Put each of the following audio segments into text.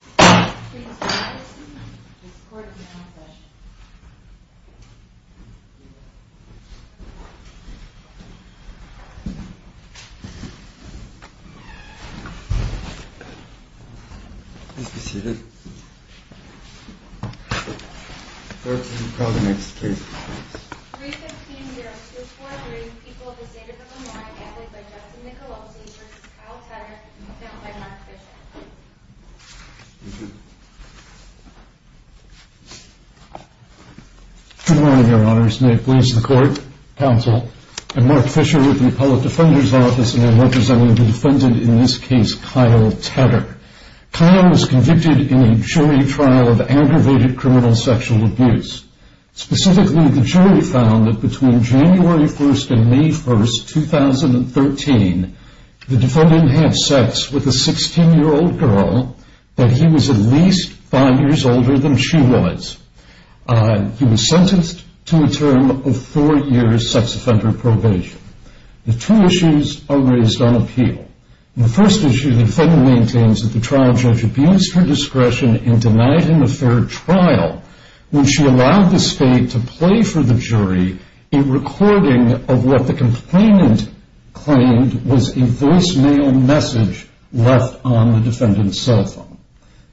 315-0243 People of the State of Illinois, added by Justin Nicolosi v. Kyle Tetter, found by Mark Bishop Good morning, your honors. May it please the court, counsel, and Mark Fisher of the Appellate Defender's Office, and I'm representing the defendant in this case, Kyle Tetter. Kyle was convicted in a jury trial of aggravated criminal sexual abuse. Specifically, the jury found that between January 1st and May 1st, 2013, the defendant had sex with a 16-year-old girl, but he was at least 5 years older than she was. He was sentenced to a term of 4 years sex offender probation. The two issues are raised on appeal. The first issue, the defendant maintains that the trial judge abused her discretion and denied him a fair trial when she allowed the state to play for the jury a recording of what the complainant claimed was a voicemail message left on the defendant's cell phone.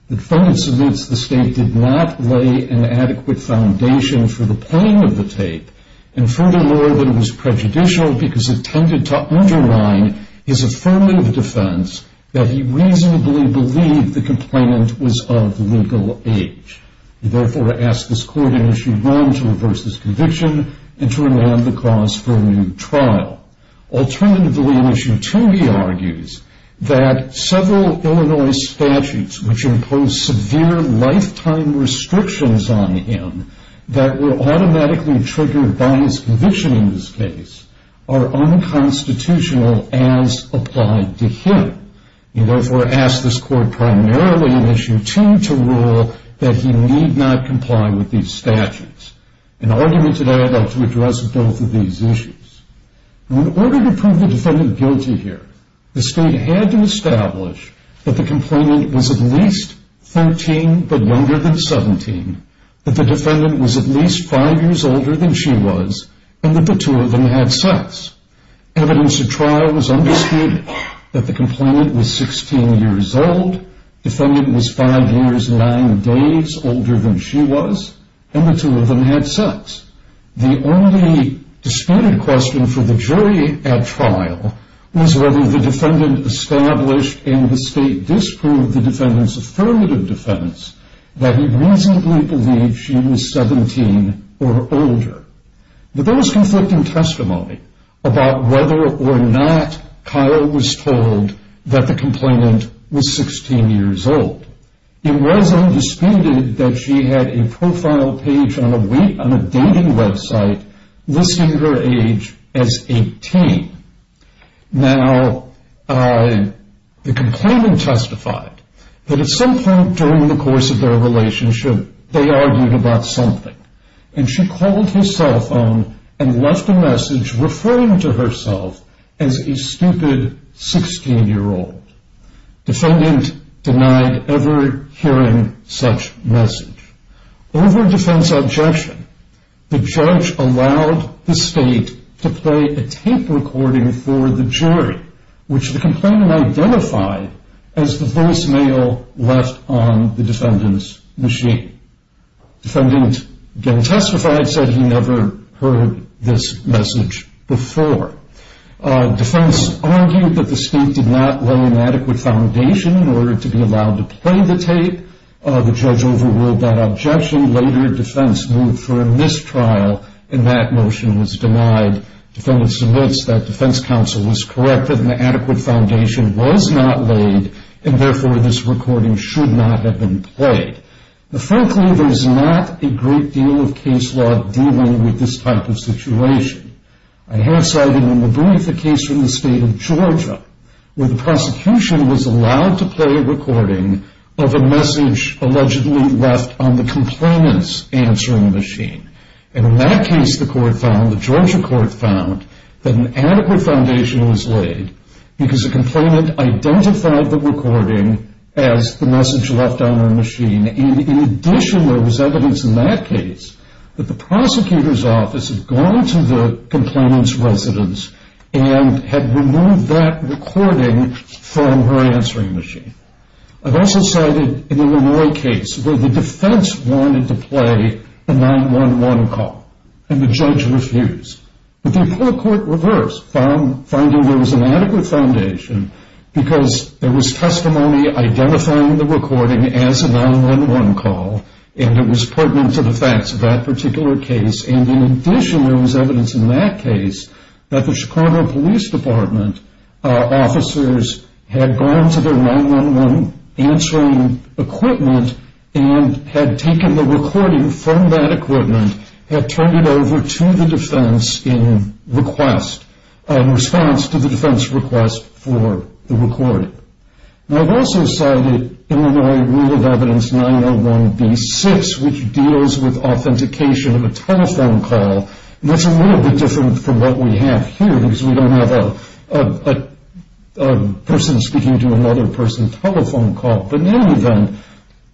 The defendant submits the state did not lay an adequate foundation for the playing of the tape, and furthermore, that it was prejudicial because it tended to undermine his affirmative defense that he reasonably believed the complainant was of legal age. He therefore asks this court in issue 1 to reverse his conviction and to remand the cause for a new trial. Alternatively, in issue 2, he argues that several Illinois statutes which impose severe lifetime restrictions on him that were automatically triggered by his conviction in this case are unconstitutional as applied to him. He therefore asks this court primarily in issue 2 to rule that he need not comply with these statutes. In argument today, I'd like to address both of these issues. In order to prove the defendant guilty here, the state had to establish that the complainant was at least 13 but younger than 17, that the defendant was at least 5 years older than she was, and that the two of them had sex. Evidence at trial was undisputed that the complainant was 16 years old, the defendant was 5 years and 9 days older than she was, and the two of them had sex. The only disputed question for the jury at trial was whether the defendant established in the state disproved the defendant's affirmative defense that he reasonably believed she was 17 or older. But there was conflicting testimony about whether or not Kyle was told that the complainant was 16 years old. It was undisputed that she had a profile page on a dating website listing her age as 18. Now, the complainant testified that at some point during the course of their relationship, they argued about something, and she called his cell phone and left a message referring to herself as a stupid 16-year-old. Defendant denied ever hearing such message. Over defense objection, the judge allowed the state to play a tape recording for the jury, which the complainant identified as the voicemail left on the defendant's machine. Defendant, again testified, said he never heard this message before. Defense argued that the state did not lay an adequate foundation in order to be allowed to play the tape. The judge overruled that objection. Later, defense moved for a mistrial, and that motion was denied. Defendant submits that defense counsel was correct that an adequate foundation was not laid, and therefore this recording should not have been played. Now, frankly, there's not a great deal of case law dealing with this type of situation. I have cited in the Booth a case from the state of Georgia where the prosecution was allowed to play a recording of a message allegedly left on the complainant's answering machine. And in that case, the court found, the Georgia court found, that an adequate foundation was laid because the complainant identified the recording as the message left on her machine. And in addition, there was evidence in that case that the prosecutor's office had gone to the complainant's residence and had removed that recording from her answering machine. I've also cited in the Illinois case where the defense wanted to play a 911 call, and the judge refused. But the court reversed, finding there was an adequate foundation because there was testimony identifying the recording as a 911 call, and it was pertinent to the facts of that particular case. And in addition, there was evidence in that case that the Chicago Police Department officers had gone to their 911 answering equipment and had taken the recording from that equipment, had turned it over to the defense in response to the defense request for the recording. And I've also cited Illinois Rule of Evidence 901b-6, which deals with authentication of a telephone call. And that's a little bit different from what we have here because we don't have a person speaking to another person's telephone call. But in any event,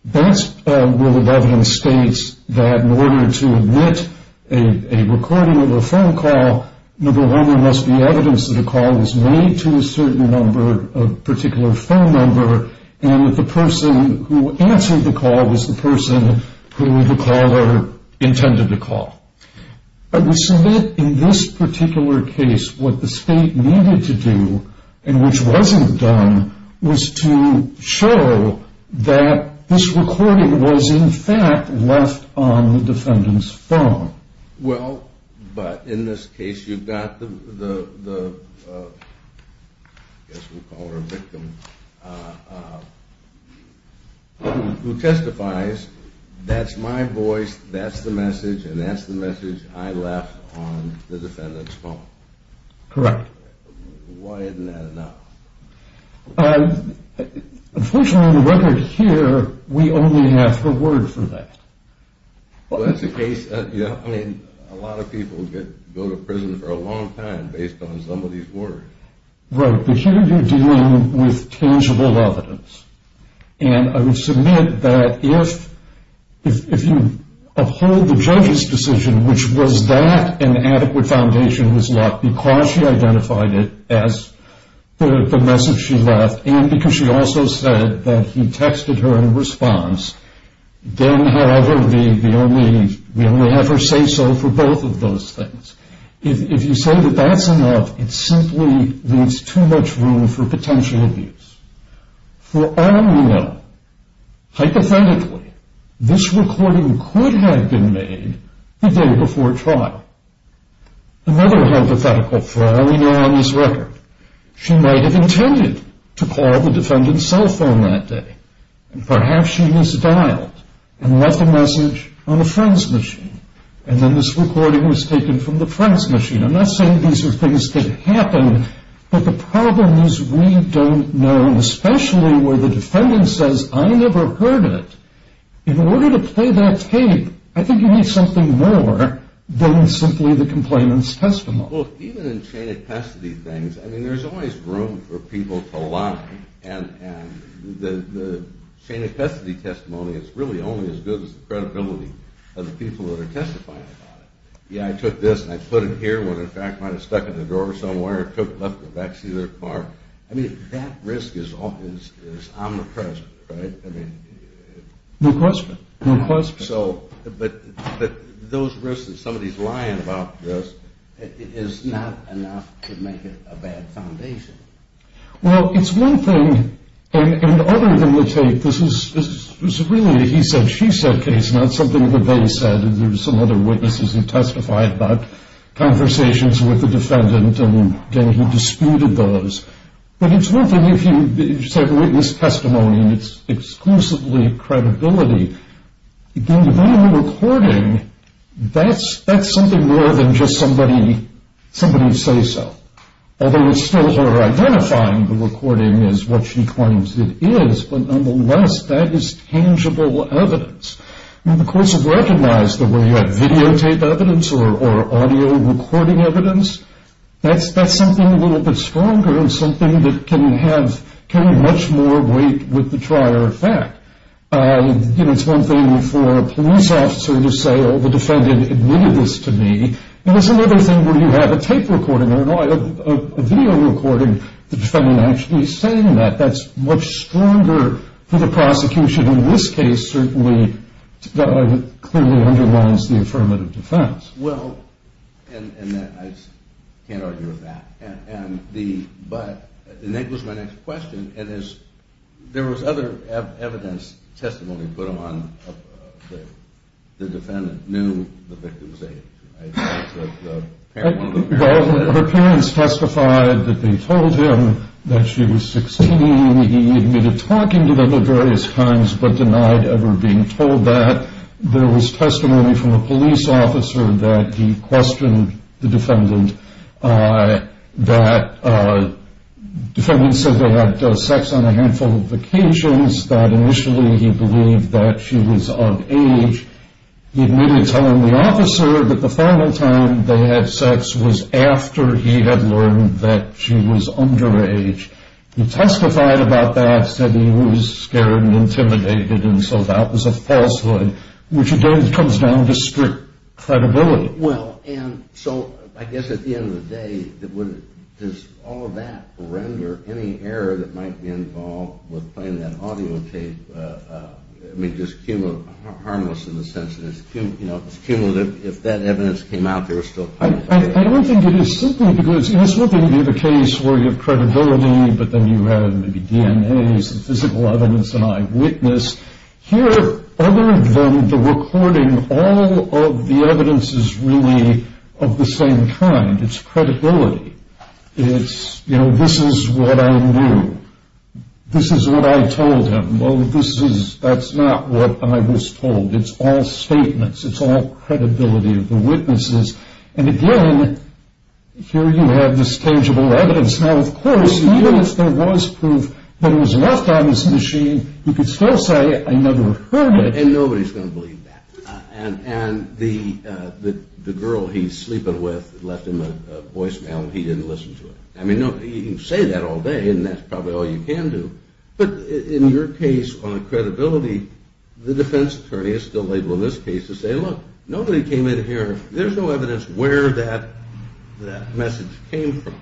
that's Rule of Evidence states that in order to admit a recording of a phone call, number one, there must be evidence that a call was made to a certain number, a particular phone number, and that the person who answered the call was the person who the caller intended to call. In this particular case, what the state needed to do, and which wasn't done, was to show that this recording was in fact left on the defendant's phone. Well, but in this case, you've got the, I guess we'll call her a victim, who testifies, that's my voice, that's the message, and that's the message I left on the defendant's phone. Correct. Why isn't that enough? Unfortunately, on the record here, we only have her word for that. Well, that's the case, yeah, I mean, a lot of people go to prison for a long time based on some of these words. Right, but here you're dealing with tangible evidence. And I would submit that if you uphold the judge's decision, which was that an adequate foundation was left, because she identified it as the message she left, and because she also said that he texted her in response, then, however, we only have her say so for both of those things. If you say that that's enough, it simply leaves too much room for potential abuse. For all we know, hypothetically, this recording could have been made the day before trial. Another hypothetical for all we know on this record, she might have intended to call the defendant's cell phone that day. And perhaps she misdialed and left a message on a friend's machine, and then this recording was taken from the friend's machine. I'm not saying these are things that happen, but the problem is we don't know, especially where the defendant says, I never heard it. In order to play that tape, I think you need something more than simply the complainant's testimony. Well, look, even in chain of custody things, I mean, there's always room for people to lie. And the chain of custody testimony is really only as good as the credibility of the people that are testifying about it. Yeah, I took this and I put it here. Well, in fact, I might have stuck it in the drawer somewhere, took it, left it in the back seat of their car. I mean, that risk is omnipresent, right? No question. No question. But those risks that somebody's lying about this is not enough to make it a bad foundation. Well, it's one thing, and other than the tape, this is really a he said, she said case, not something that they said. There were some other witnesses who testified about conversations with the defendant, and, again, he disputed those. But it's one thing if you said witness testimony and it's exclusively credibility. Again, the video recording, that's something more than just somebody say so, although it's still her identifying the recording as what she claims it is, but, nonetheless, that is tangible evidence. I mean, the courts have recognized that when you have videotape evidence or audio recording evidence, that's something a little bit stronger and something that can have much more weight with the trier of fact. You know, it's one thing for a police officer to say, oh, the defendant admitted this to me, but it's another thing where you have a tape recording or a video recording, the defendant actually saying that. That's much stronger for the prosecution in this case, certainly, that clearly underlines the affirmative defense. Well, and I can't argue with that. But, and that goes to my next question, and there was other evidence, testimony put on the defendant knew the victim's age. Well, her parents testified that they told him that she was 16. He admitted talking to them at various times but denied ever being told that. There was testimony from a police officer that he questioned the defendant that the defendant said they had sex on a handful of occasions, that initially he believed that she was of age. He admitted telling the officer that the final time they had sex was after he had learned that she was underage. He testified about that, said he was scared and intimidated, and so that was a falsehood, which again comes down to strict credibility. Well, and so I guess at the end of the day, does all of that render any error that might be involved with playing that audio tape, I mean, just harmless in the sense that it's cumulative, if that evidence came out there, it's still kind of a failure. I don't think it is simply because it's not going to be the case where you have credibility, but then you have maybe DNAs and physical evidence and eyewitness. Here, other than the recording, all of the evidence is really of the same kind. It's credibility. It's, you know, this is what I knew. This is what I told him. Well, this is, that's not what I was told. It's all statements. It's all credibility of the witnesses. And again, here you have this tangible evidence. Now, of course, even if there was proof that it was left on his machine, he could still say, I never heard it. And nobody's going to believe that. And the girl he's sleeping with left him a voicemail, and he didn't listen to it. I mean, you can say that all day, and that's probably all you can do. But in your case on credibility, the defense attorney is still able in this case to say, look, nobody came in here, there's no evidence where that message came from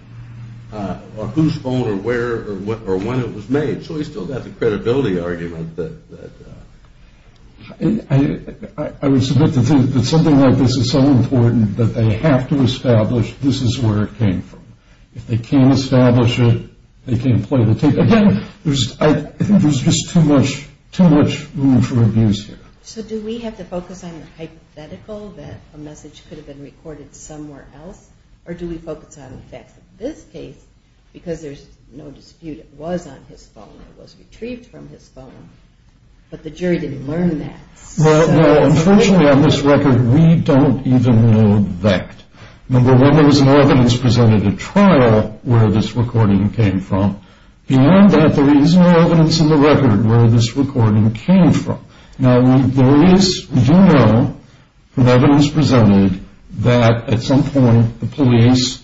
or whose phone or where or when it was made. So he's still got the credibility argument that. I would submit to the defense that something like this is so important that they have to establish this is where it came from. If they can't establish it, they can't play the tape. Again, I think there's just too much room for abuse here. So do we have to focus on the hypothetical that a message could have been recorded somewhere else? Or do we focus on the fact that this case, because there's no dispute it was on his phone or was retrieved from his phone, but the jury didn't learn that? No, unfortunately on this record, we don't even know that. Number one, there was no evidence presented at trial where this recording came from. Beyond that, there is no evidence in the record where this recording came from. Now we do know from evidence presented that at some point the police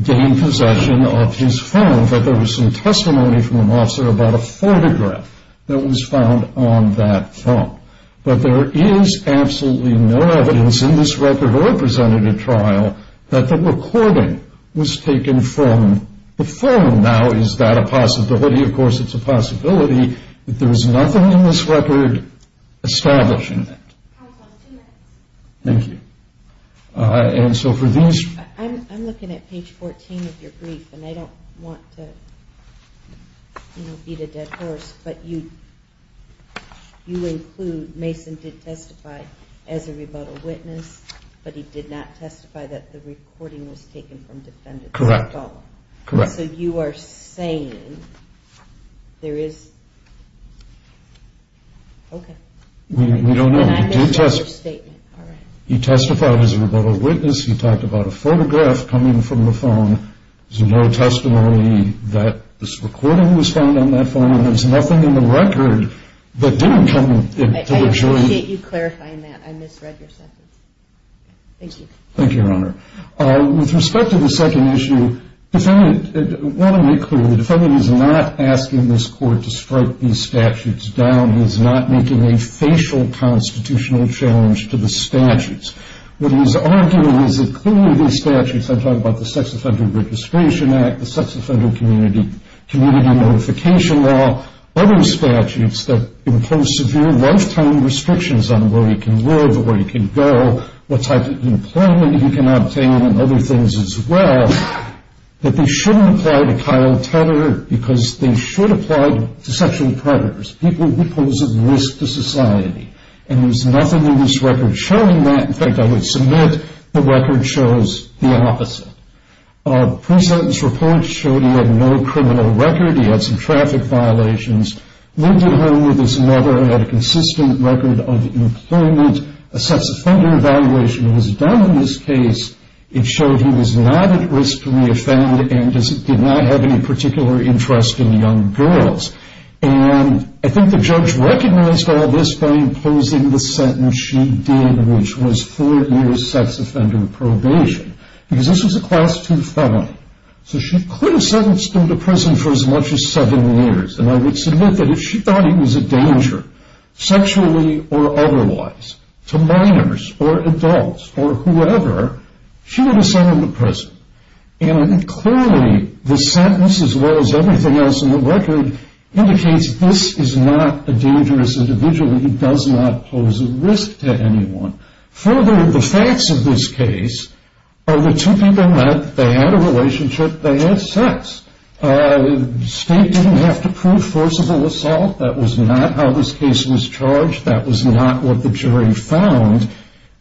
gained possession of his phone, but there was some testimony from an officer about a photograph that was found on that phone. But there is absolutely no evidence in this record or presented at trial that the recording was taken from the phone. Now is that a possibility? Of course it's a possibility, but there is nothing in this record establishing that. Counsel, two minutes. Thank you. I'm looking at page 14 of your brief, and I don't want to beat a dead horse, but you include Mason did testify as a rebuttal witness, but he did not testify that the recording was taken from defendant's phone. Correct. So you are saying there is, okay. We don't know. He testified as a rebuttal witness. He talked about a photograph coming from the phone. There's no testimony that this recording was found on that phone, and there's nothing in the record that didn't come into the jury. I appreciate you clarifying that. I misread your sentence. Thank you. Thank you, Your Honor. With respect to the second issue, I want to make clear, the defendant is not asking this court to strike these statutes down. He's not making a facial constitutional challenge to the statutes. What he's arguing is that clearly these statutes, I'm talking about the Sex Offender Registration Act, the Sex Offender Community Notification Law, other statutes that impose severe lifetime restrictions on where he can live or where he can go, what type of employment he can obtain, and other things as well, that they shouldn't apply to Kyle Tedder because they should apply to sexual predators, people who pose a risk to society. And there's nothing in this record showing that. In fact, I would submit the record shows the opposite. The pre-sentence report showed he had no criminal record. He had some traffic violations, lived at home with his mother, had a consistent record of employment. A sex offender evaluation was done in this case. It showed he was not at risk to reoffend and did not have any particular interest in young girls. And I think the judge recognized all this by imposing the sentence she did, which was four years sex offender probation, because this was a Class II felon. So she could have sentenced him to prison for as much as seven years, and I would submit that if she thought he was a danger, sexually or otherwise, to minors or adults or whoever, she would have sent him to prison. And clearly the sentence, as well as everything else in the record, indicates this is not a dangerous individual. He does not pose a risk to anyone. Further, the facts of this case are the two people met. They had a relationship. They had sex. State didn't have to prove forcible assault. That was not how this case was charged. That was not what the jury found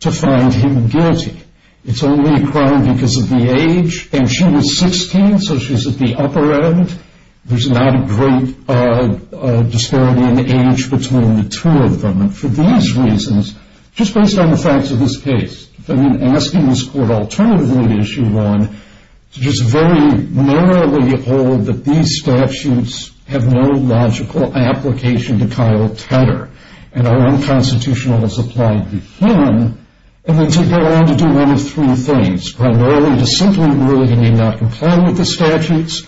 to find him guilty. It's only a crime because of the age, and she was 16, so she's at the upper end. There's not a great disparity in age between the two of them. And for these reasons, just based on the facts of this case, I've been asking this court alternatively, as you've gone, to just very narrowly hold that these statutes have no logical application to Kyle Tedder, and are unconstitutional as applied to him, and then to go on to do one of three things, primarily to simply rule he may not comply with the statutes,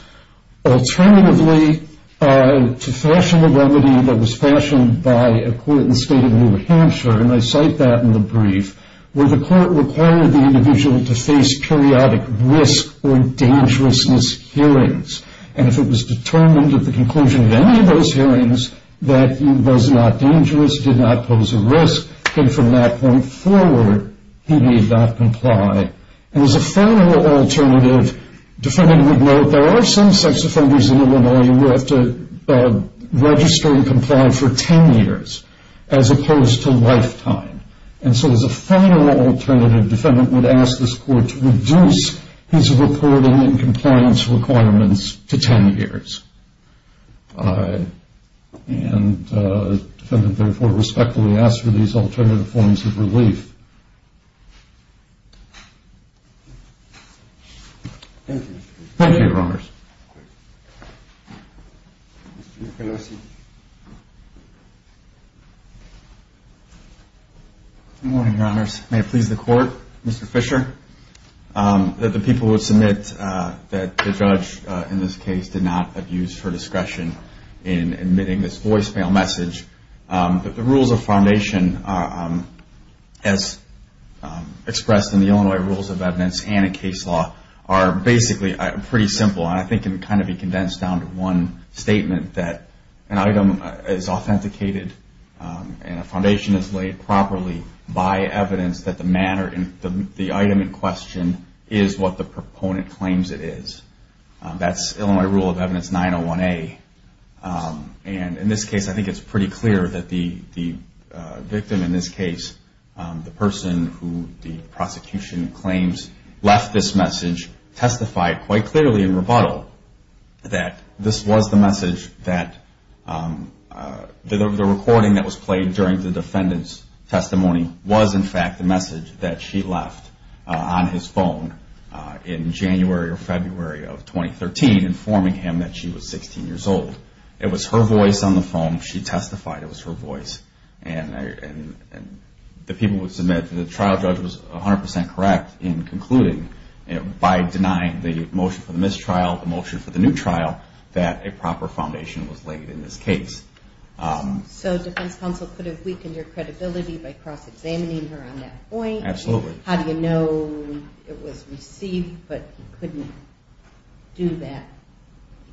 alternatively to fashion a remedy that was fashioned by a court in the state of New Hampshire, and I cite that in the brief, where the court required the individual to face periodic risk or dangerousness hearings. And if it was determined at the conclusion of any of those hearings that he was not dangerous, did not pose a risk, then from that point forward, he may not comply. And as a final alternative, the defendant would note there are some sex offenders in Illinois who have to register and comply for 10 years, as opposed to a lifetime. And so as a final alternative, the defendant would ask this court to reduce his reporting and compliance requirements to 10 years. And the defendant, therefore, respectfully asks for these alternative forms of relief. Thank you. Thank you, Your Honors. Good morning, Your Honors. May it please the Court, Mr. Fisher, that the people who submit that the judge in this case did not abuse her discretion in admitting this voicemail message, that the rules of foundation, as expressed in the Illinois Rules of Evidence and in case law, are basically pretty simple and I think can kind of be condensed down to one statement, that an item is authenticated and a foundation is laid properly by evidence that the item in question is what the proponent claims it is. That's Illinois Rule of Evidence 901A. And in this case, I think it's pretty clear that the victim in this case, the person who the prosecution claims left this message, testified quite clearly in rebuttal that this was the message that the recording that was played during the defendant's testimony was in fact the message that she left on his phone in January or February of 2013, informing him that she was 16 years old. It was her voice on the phone. She testified. It was her voice. And the people who submit that the trial judge was 100% correct in concluding, by denying the motion for the mistrial, the motion for the new trial, that a proper foundation was laid in this case. So defense counsel could have weakened your credibility by cross-examining her on that point? Absolutely. How do you know it was received but he couldn't do that?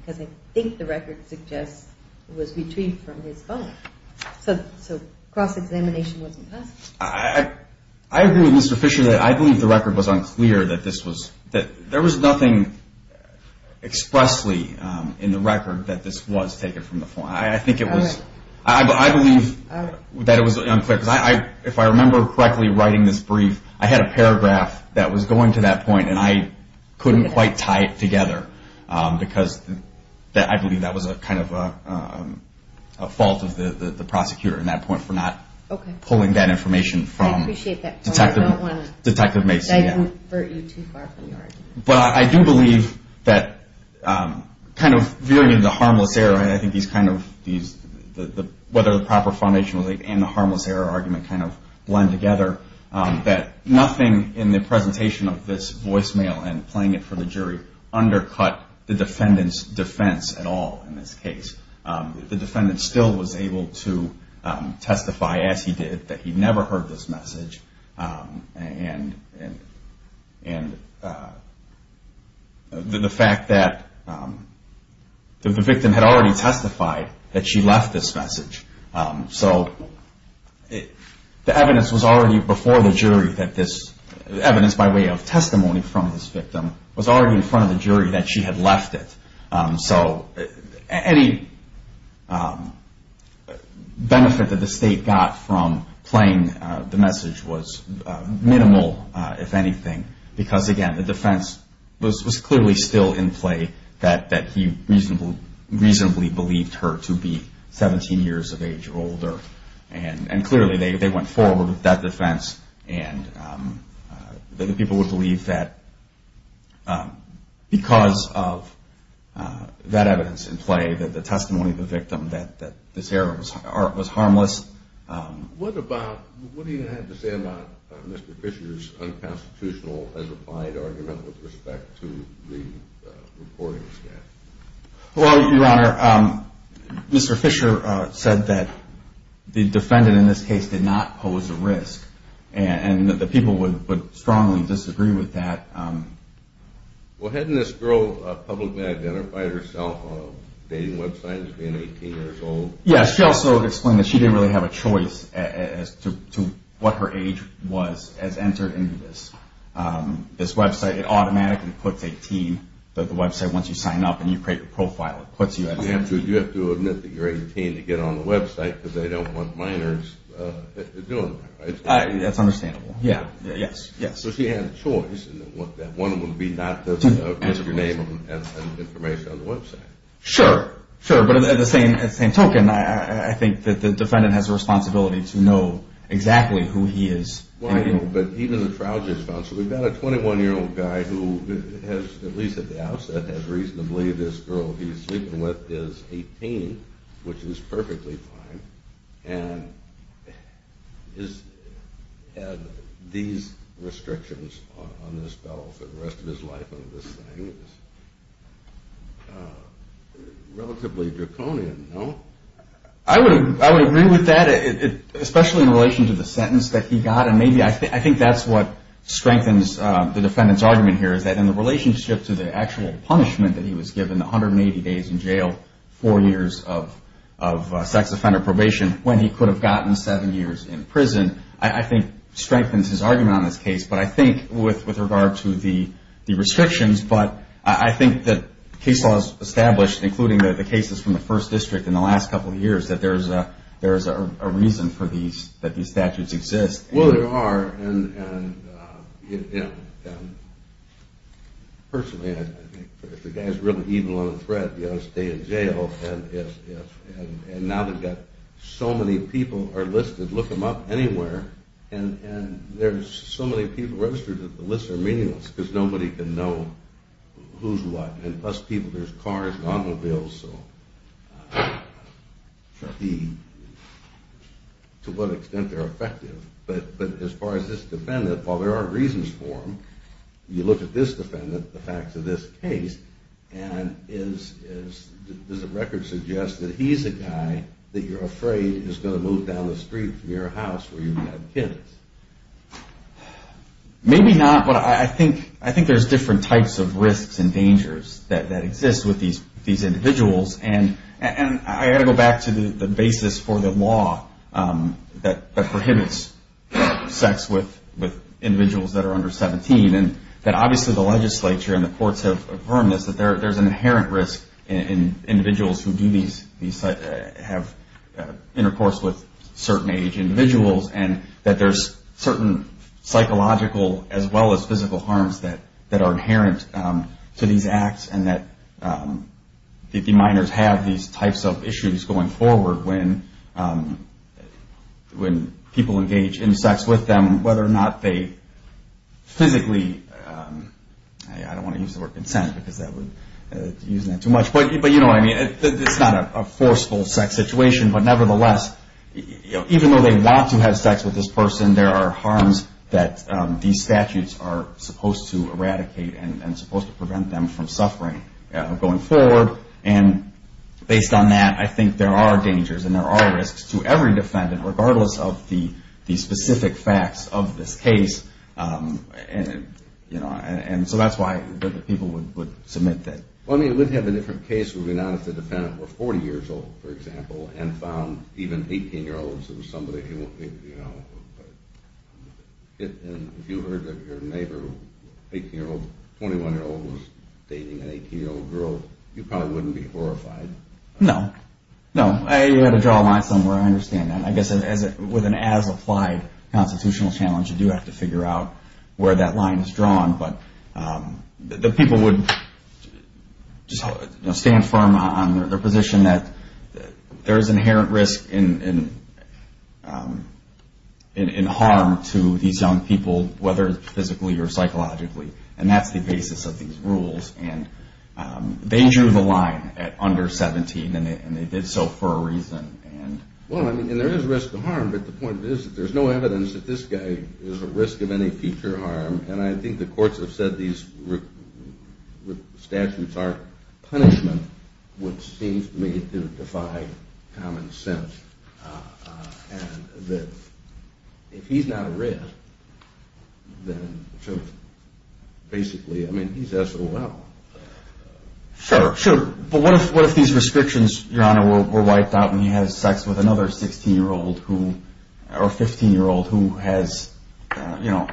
Because I think the record suggests it was retrieved from his phone. So cross-examination wasn't possible? I agree with Mr. Fisher that I believe the record was unclear that this was – that there was nothing expressly in the record that this was taken from the phone. I think it was – I believe that it was unclear. Because if I remember correctly writing this brief, I had a paragraph that was going to that point and I couldn't quite tie it together because I believe that was kind of a fault of the prosecutor in that point for not pulling that information from Detective Mason. But I do believe that kind of veering into harmless error, I think these kind of – whether the proper foundation was laid and the harmless error argument kind of blend together, that nothing in the presentation of this voicemail and playing it for the jury undercut the defendant's defense at all in this case. The defendant still was able to testify, as he did, that he never heard this message. And the fact that the victim had already testified that she left this message. So the evidence was already before the jury that this – the evidence by way of testimony from this victim was already in front of the jury that she had left it. So any benefit that the state got from playing the message was minimal, if anything. Because, again, the defense was clearly still in play that he reasonably believed her to be 17 years of age or older. And clearly they went forward with that defense and that the people would believe that because of that evidence in play, that the testimony of the victim, that this error was harmless. What about – what do you have to say about Mr. Fisher's unconstitutional as applied argument with respect to the reporting staff? Well, Your Honor, Mr. Fisher said that the defendant in this case did not pose a risk. And that the people would strongly disagree with that. Well, hadn't this girl publicly identified herself on a dating website as being 18 years old? Yes, she also explained that she didn't really have a choice as to what her age was as entered into this website. It automatically puts 18. The website, once you sign up and you create your profile, it puts you at 18. You have to admit that you're 18 to get on the website because they don't want minors doing that, right? That's understandable, yes. So she had a choice. One would be not to put your name and information on the website. Sure, sure. But at the same token, I think that the defendant has a responsibility to know exactly who he is. But even the trial judge found – so we've got a 21-year-old guy who has at least at the outset had reason to believe this girl he's sleeping with is 18, which is perfectly fine, and has had these restrictions on this girl for the rest of his life on this thing. It's relatively draconian, no? I would agree with that, especially in relation to the sentence that he got. And maybe I think that's what strengthens the defendant's argument here is that in the relationship to the actual punishment that he was given, 180 days in jail, four years of sex offender probation, when he could have gotten seven years in prison, I think strengthens his argument on this case. But I think with regard to the restrictions, but I think that case laws established, including the cases from the first district in the last couple of years, that there is a reason that these statutes exist. Well, there are. And personally, I think if the guy's really evil on the threat, he ought to stay in jail. And now they've got so many people are listed, look them up anywhere, and there's so many people registered that the lists are meaningless because nobody can know who's what. And plus people, there's cars and automobiles, so to what extent they're effective. But as far as this defendant, while there are reasons for him, you look at this defendant, the facts of this case, and does the record suggest that he's a guy that you're afraid is going to move down the street from your house where you've had kids? Maybe not, but I think there's different types of risks and dangers that exist with these individuals. And I've got to go back to the basis for the law that prohibits sex with individuals that are under 17, and that obviously the legislature and the courts have affirmed this, that there's an inherent risk in individuals who have intercourse with certain age individuals, and that there's certain psychological as well as physical harms that are inherent to these acts, and that the minors have these types of issues going forward when people engage in sex with them, whether or not they physically, I don't want to use the word consent, because that would use that too much, but you know what I mean. It's not a forceful sex situation, but nevertheless, even though they want to have sex with this person, there are harms that these statutes are supposed to eradicate and supposed to prevent them from suffering going forward. And based on that, I think there are dangers and there are risks to every defendant, regardless of the specific facts of this case. And so that's why people would submit that. Well, I mean, it would have a different case if the defendant were 40 years old, for example, and found even 18-year-olds and somebody, you know, and if you heard that your neighbor, 18-year-old, 21-year-old, was dating an 18-year-old girl, you probably wouldn't be horrified. No, no. You had to draw a line somewhere. I understand that. I guess with an as-applied constitutional challenge, you do have to figure out where that line is drawn, but the people would stand firm on their position that there is inherent risk and harm to these young people, whether physically or psychologically, and that's the basis of these rules. And they drew the line at under 17, and they did so for a reason. Well, I mean, there is risk to harm, but the point is that there's no evidence that this guy is at risk of any future harm, and I think the courts have said these statutes are punishment, which seems to me to defy common sense, and that if he's not at risk, then basically, I mean, he's SOL. Sure, sure. But what if these restrictions, Your Honor, were wiped out and he has sex with another 16-year-old or 15-year-old who has, you know,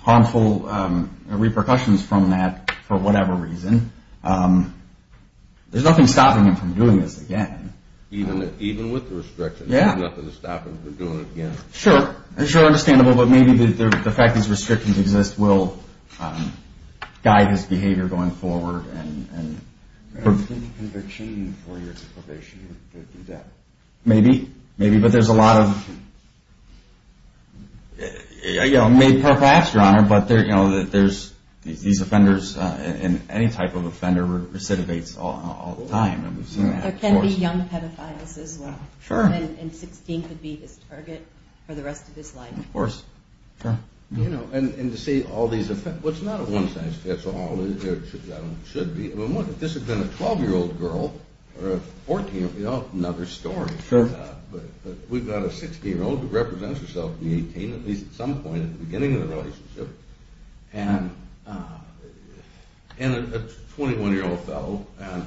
harmful repercussions from that for whatever reason? There's nothing stopping him from doing this again. Even with the restrictions, there's nothing stopping him from doing it again. Sure, sure, understandable, but maybe the fact these restrictions exist will guide his behavior going forward. Do you have any conviction for your probation? Maybe, maybe, but there's a lot of... I may perhaps, Your Honor, but there's these offenders, and any type of offender recidivates all the time, and we've seen that. There can be young pedophiles as well. Sure. And 16 could be his target for the rest of his life. Of course, sure. You know, and to see all these offenders, well, it's not a one-size-fits-all. It should be. I mean, look, if this had been a 12-year-old girl or a 14-year-old, another story. Sure. But we've got a 16-year-old who represents herself in the 18, at least at some point at the beginning of the relationship, and a 21-year-old fellow, and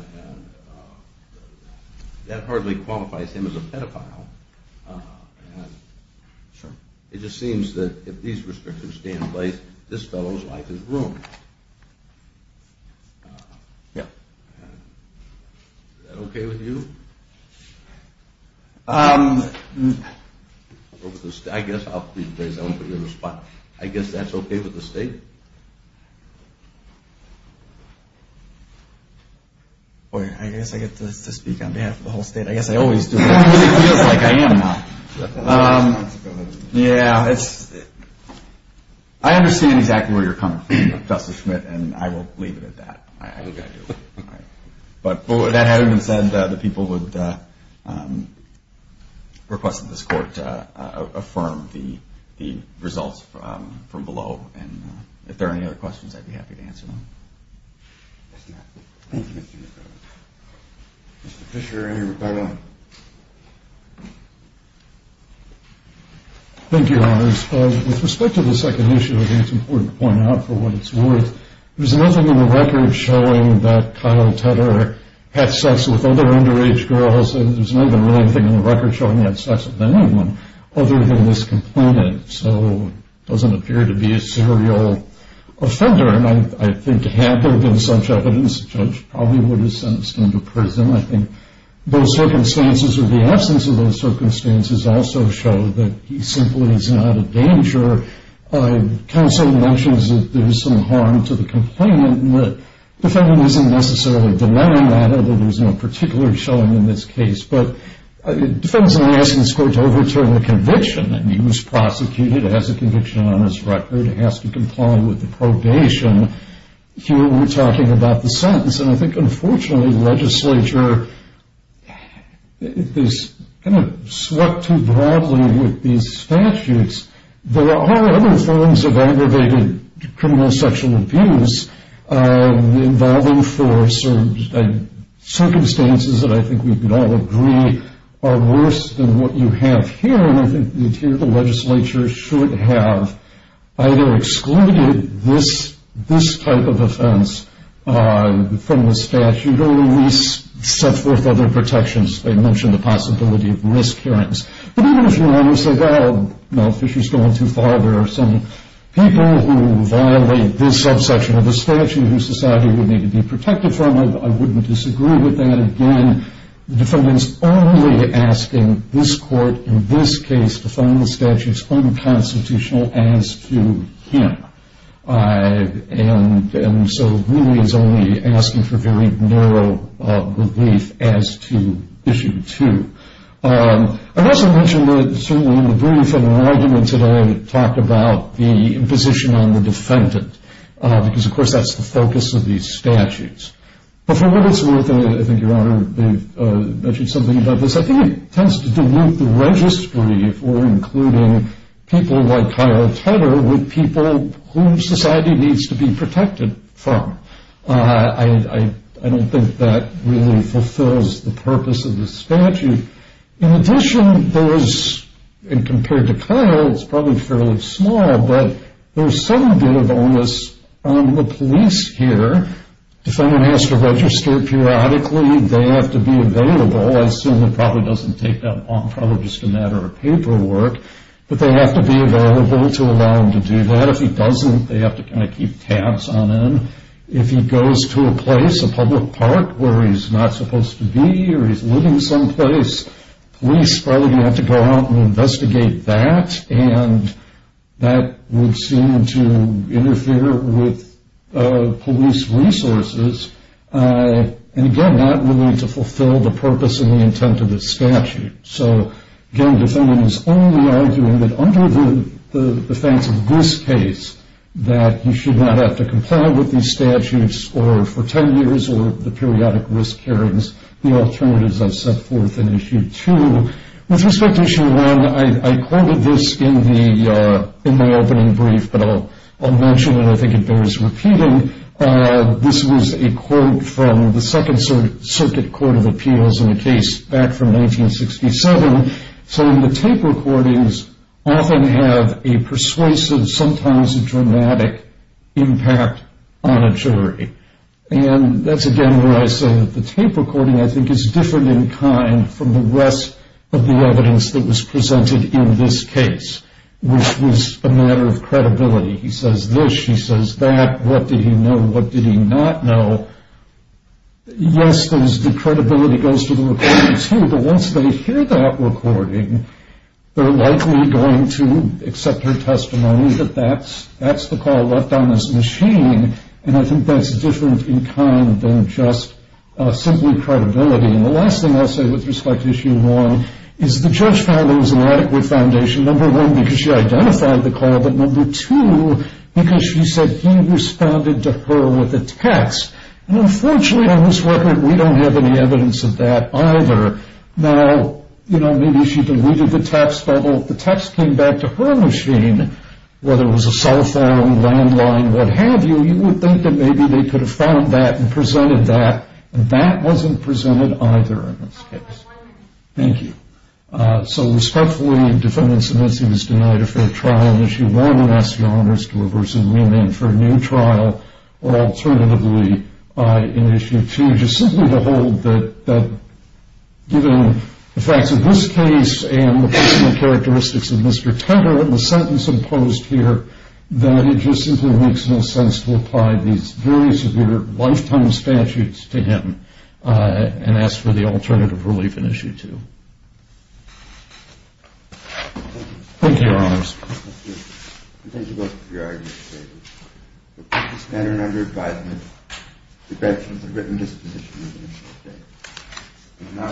that hardly qualifies him as a pedophile, and it just seems that if these restrictions stay in place, this fellow's life is ruined. Yeah. Is that okay with you? I guess I'll put you in the spot. I guess that's okay with the State? Boy, I guess I get to speak on behalf of the whole State. I guess I always do. It really feels like I am now. Yeah. I understand exactly where you're coming from, Justice Schmidt, and I will leave it at that. I think I do. All right. But that having been said, the people would request that this Court affirm the results from below, and if there are any other questions, I'd be happy to answer them. Yes, ma'am. Thank you, Mr. Nichols. Mr. Fischer and Rebecca. Thank you, Your Honors. With respect to the second issue, I think it's important to point out for what it's worth, there's nothing in the record showing that Kyle Tedder had sex with other underage girls, and there's not even really anything in the record showing he had sex with anyone other than this complainant, so it doesn't appear to be a serial offender, and I think had there been such evidence, the judge probably would have sentenced him to prison. I think those circumstances or the absence of those circumstances also show that he simply is not a danger. Counsel mentions that there's some harm to the complainant, and the defendant isn't necessarily denying that, although there's no particular showing in this case. But the defendant is only asking this Court to overturn the conviction, and he was prosecuted as a conviction on his record. He has to comply with the probation. Here we're talking about the sentence, and I think, unfortunately, the legislature is kind of swept too broadly with these statutes. There are other forms of aggravated criminal sexual abuse involving force, and circumstances that I think we could all agree are worse than what you have here, and I think the interior legislature should have either excluded this type of offense from the statute or at least set forth other protections. They mentioned the possibility of risk hearings. But even if you want to say, well, no, Fisher's going too far. There are some people who violate this subsection of the statute whose society would need to be protected from. I wouldn't disagree with that. Again, the defendant is only asking this Court in this case to find the statute unconstitutional as to him, and so really is only asking for very narrow relief as to issue two. I'd also mention that certainly in the brief and in the argument today, it talked about the imposition on the defendant because, of course, that's the focus of these statutes. But for what it's worth, and I think, Your Honor, they've mentioned something about this, I think it tends to dilute the registry for including people like Kyle Tedder with people whom society needs to be protected from. I don't think that really fulfills the purpose of the statute. In addition, there is, and compared to Kyle, it's probably fairly small, but there's some bit of onus on the police here. Defendant has to register periodically. They have to be available. I assume it probably doesn't take that long, probably just a matter of paperwork, but they have to be available to allow him to do that. If he doesn't, they have to kind of keep tabs on him. If he goes to a place, a public park, where he's not supposed to be or he's living someplace, police probably have to go out and investigate that, and that would seem to interfere with police resources, and, again, not really to fulfill the purpose and the intent of the statute. So, again, the defendant is only arguing that under the defense of this case, that he should not have to comply with these statutes for 10 years or the periodic risk hearings, the alternatives I've set forth in Issue 2. With respect to Issue 1, I quoted this in my opening brief, but I'll mention it. I think it bears repeating. This was a quote from the Second Circuit Court of Appeals in a case back from 1967. So the tape recordings often have a persuasive, sometimes dramatic impact on a jury, and that's, again, where I say that the tape recording, I think, is different in kind from the rest of the evidence that was presented in this case, which was a matter of credibility. He says this, she says that. What did he know? What did he not know? Yes, the credibility goes to the recording, too, but once they hear that recording, they're likely going to accept her testimony that that's the call left on this machine, and I think that's different in kind than just simply credibility. And the last thing I'll say with respect to Issue 1 is the judge found there was an adequate foundation, number one, because she identified the call, but number two, because she said he responded to her with a text. And unfortunately on this record, we don't have any evidence of that either. Now, you know, maybe she deleted the text, but if the text came back to her machine, whether it was a cell phone, landline, what have you, you would think that maybe they could have found that and presented that, and that wasn't presented either in this case. Thank you. So respectfully, the defendant submits he was denied a fair trial in Issue 1 and asks your honors to reverse the ruling for a new trial, or alternatively, in Issue 2, just simply to hold that given the facts of this case and the personal characteristics of Mr. Tedder and the sentence imposed here, that it just simply makes no sense to apply these very severe lifetime statutes to him and ask for the alternative relief in Issue 2. Thank you, your honors. Thank you. Thank you both for your arguments today. The court is now in under advisement. The defense has a written disposition. Thank you. We will now go to the purpose of court.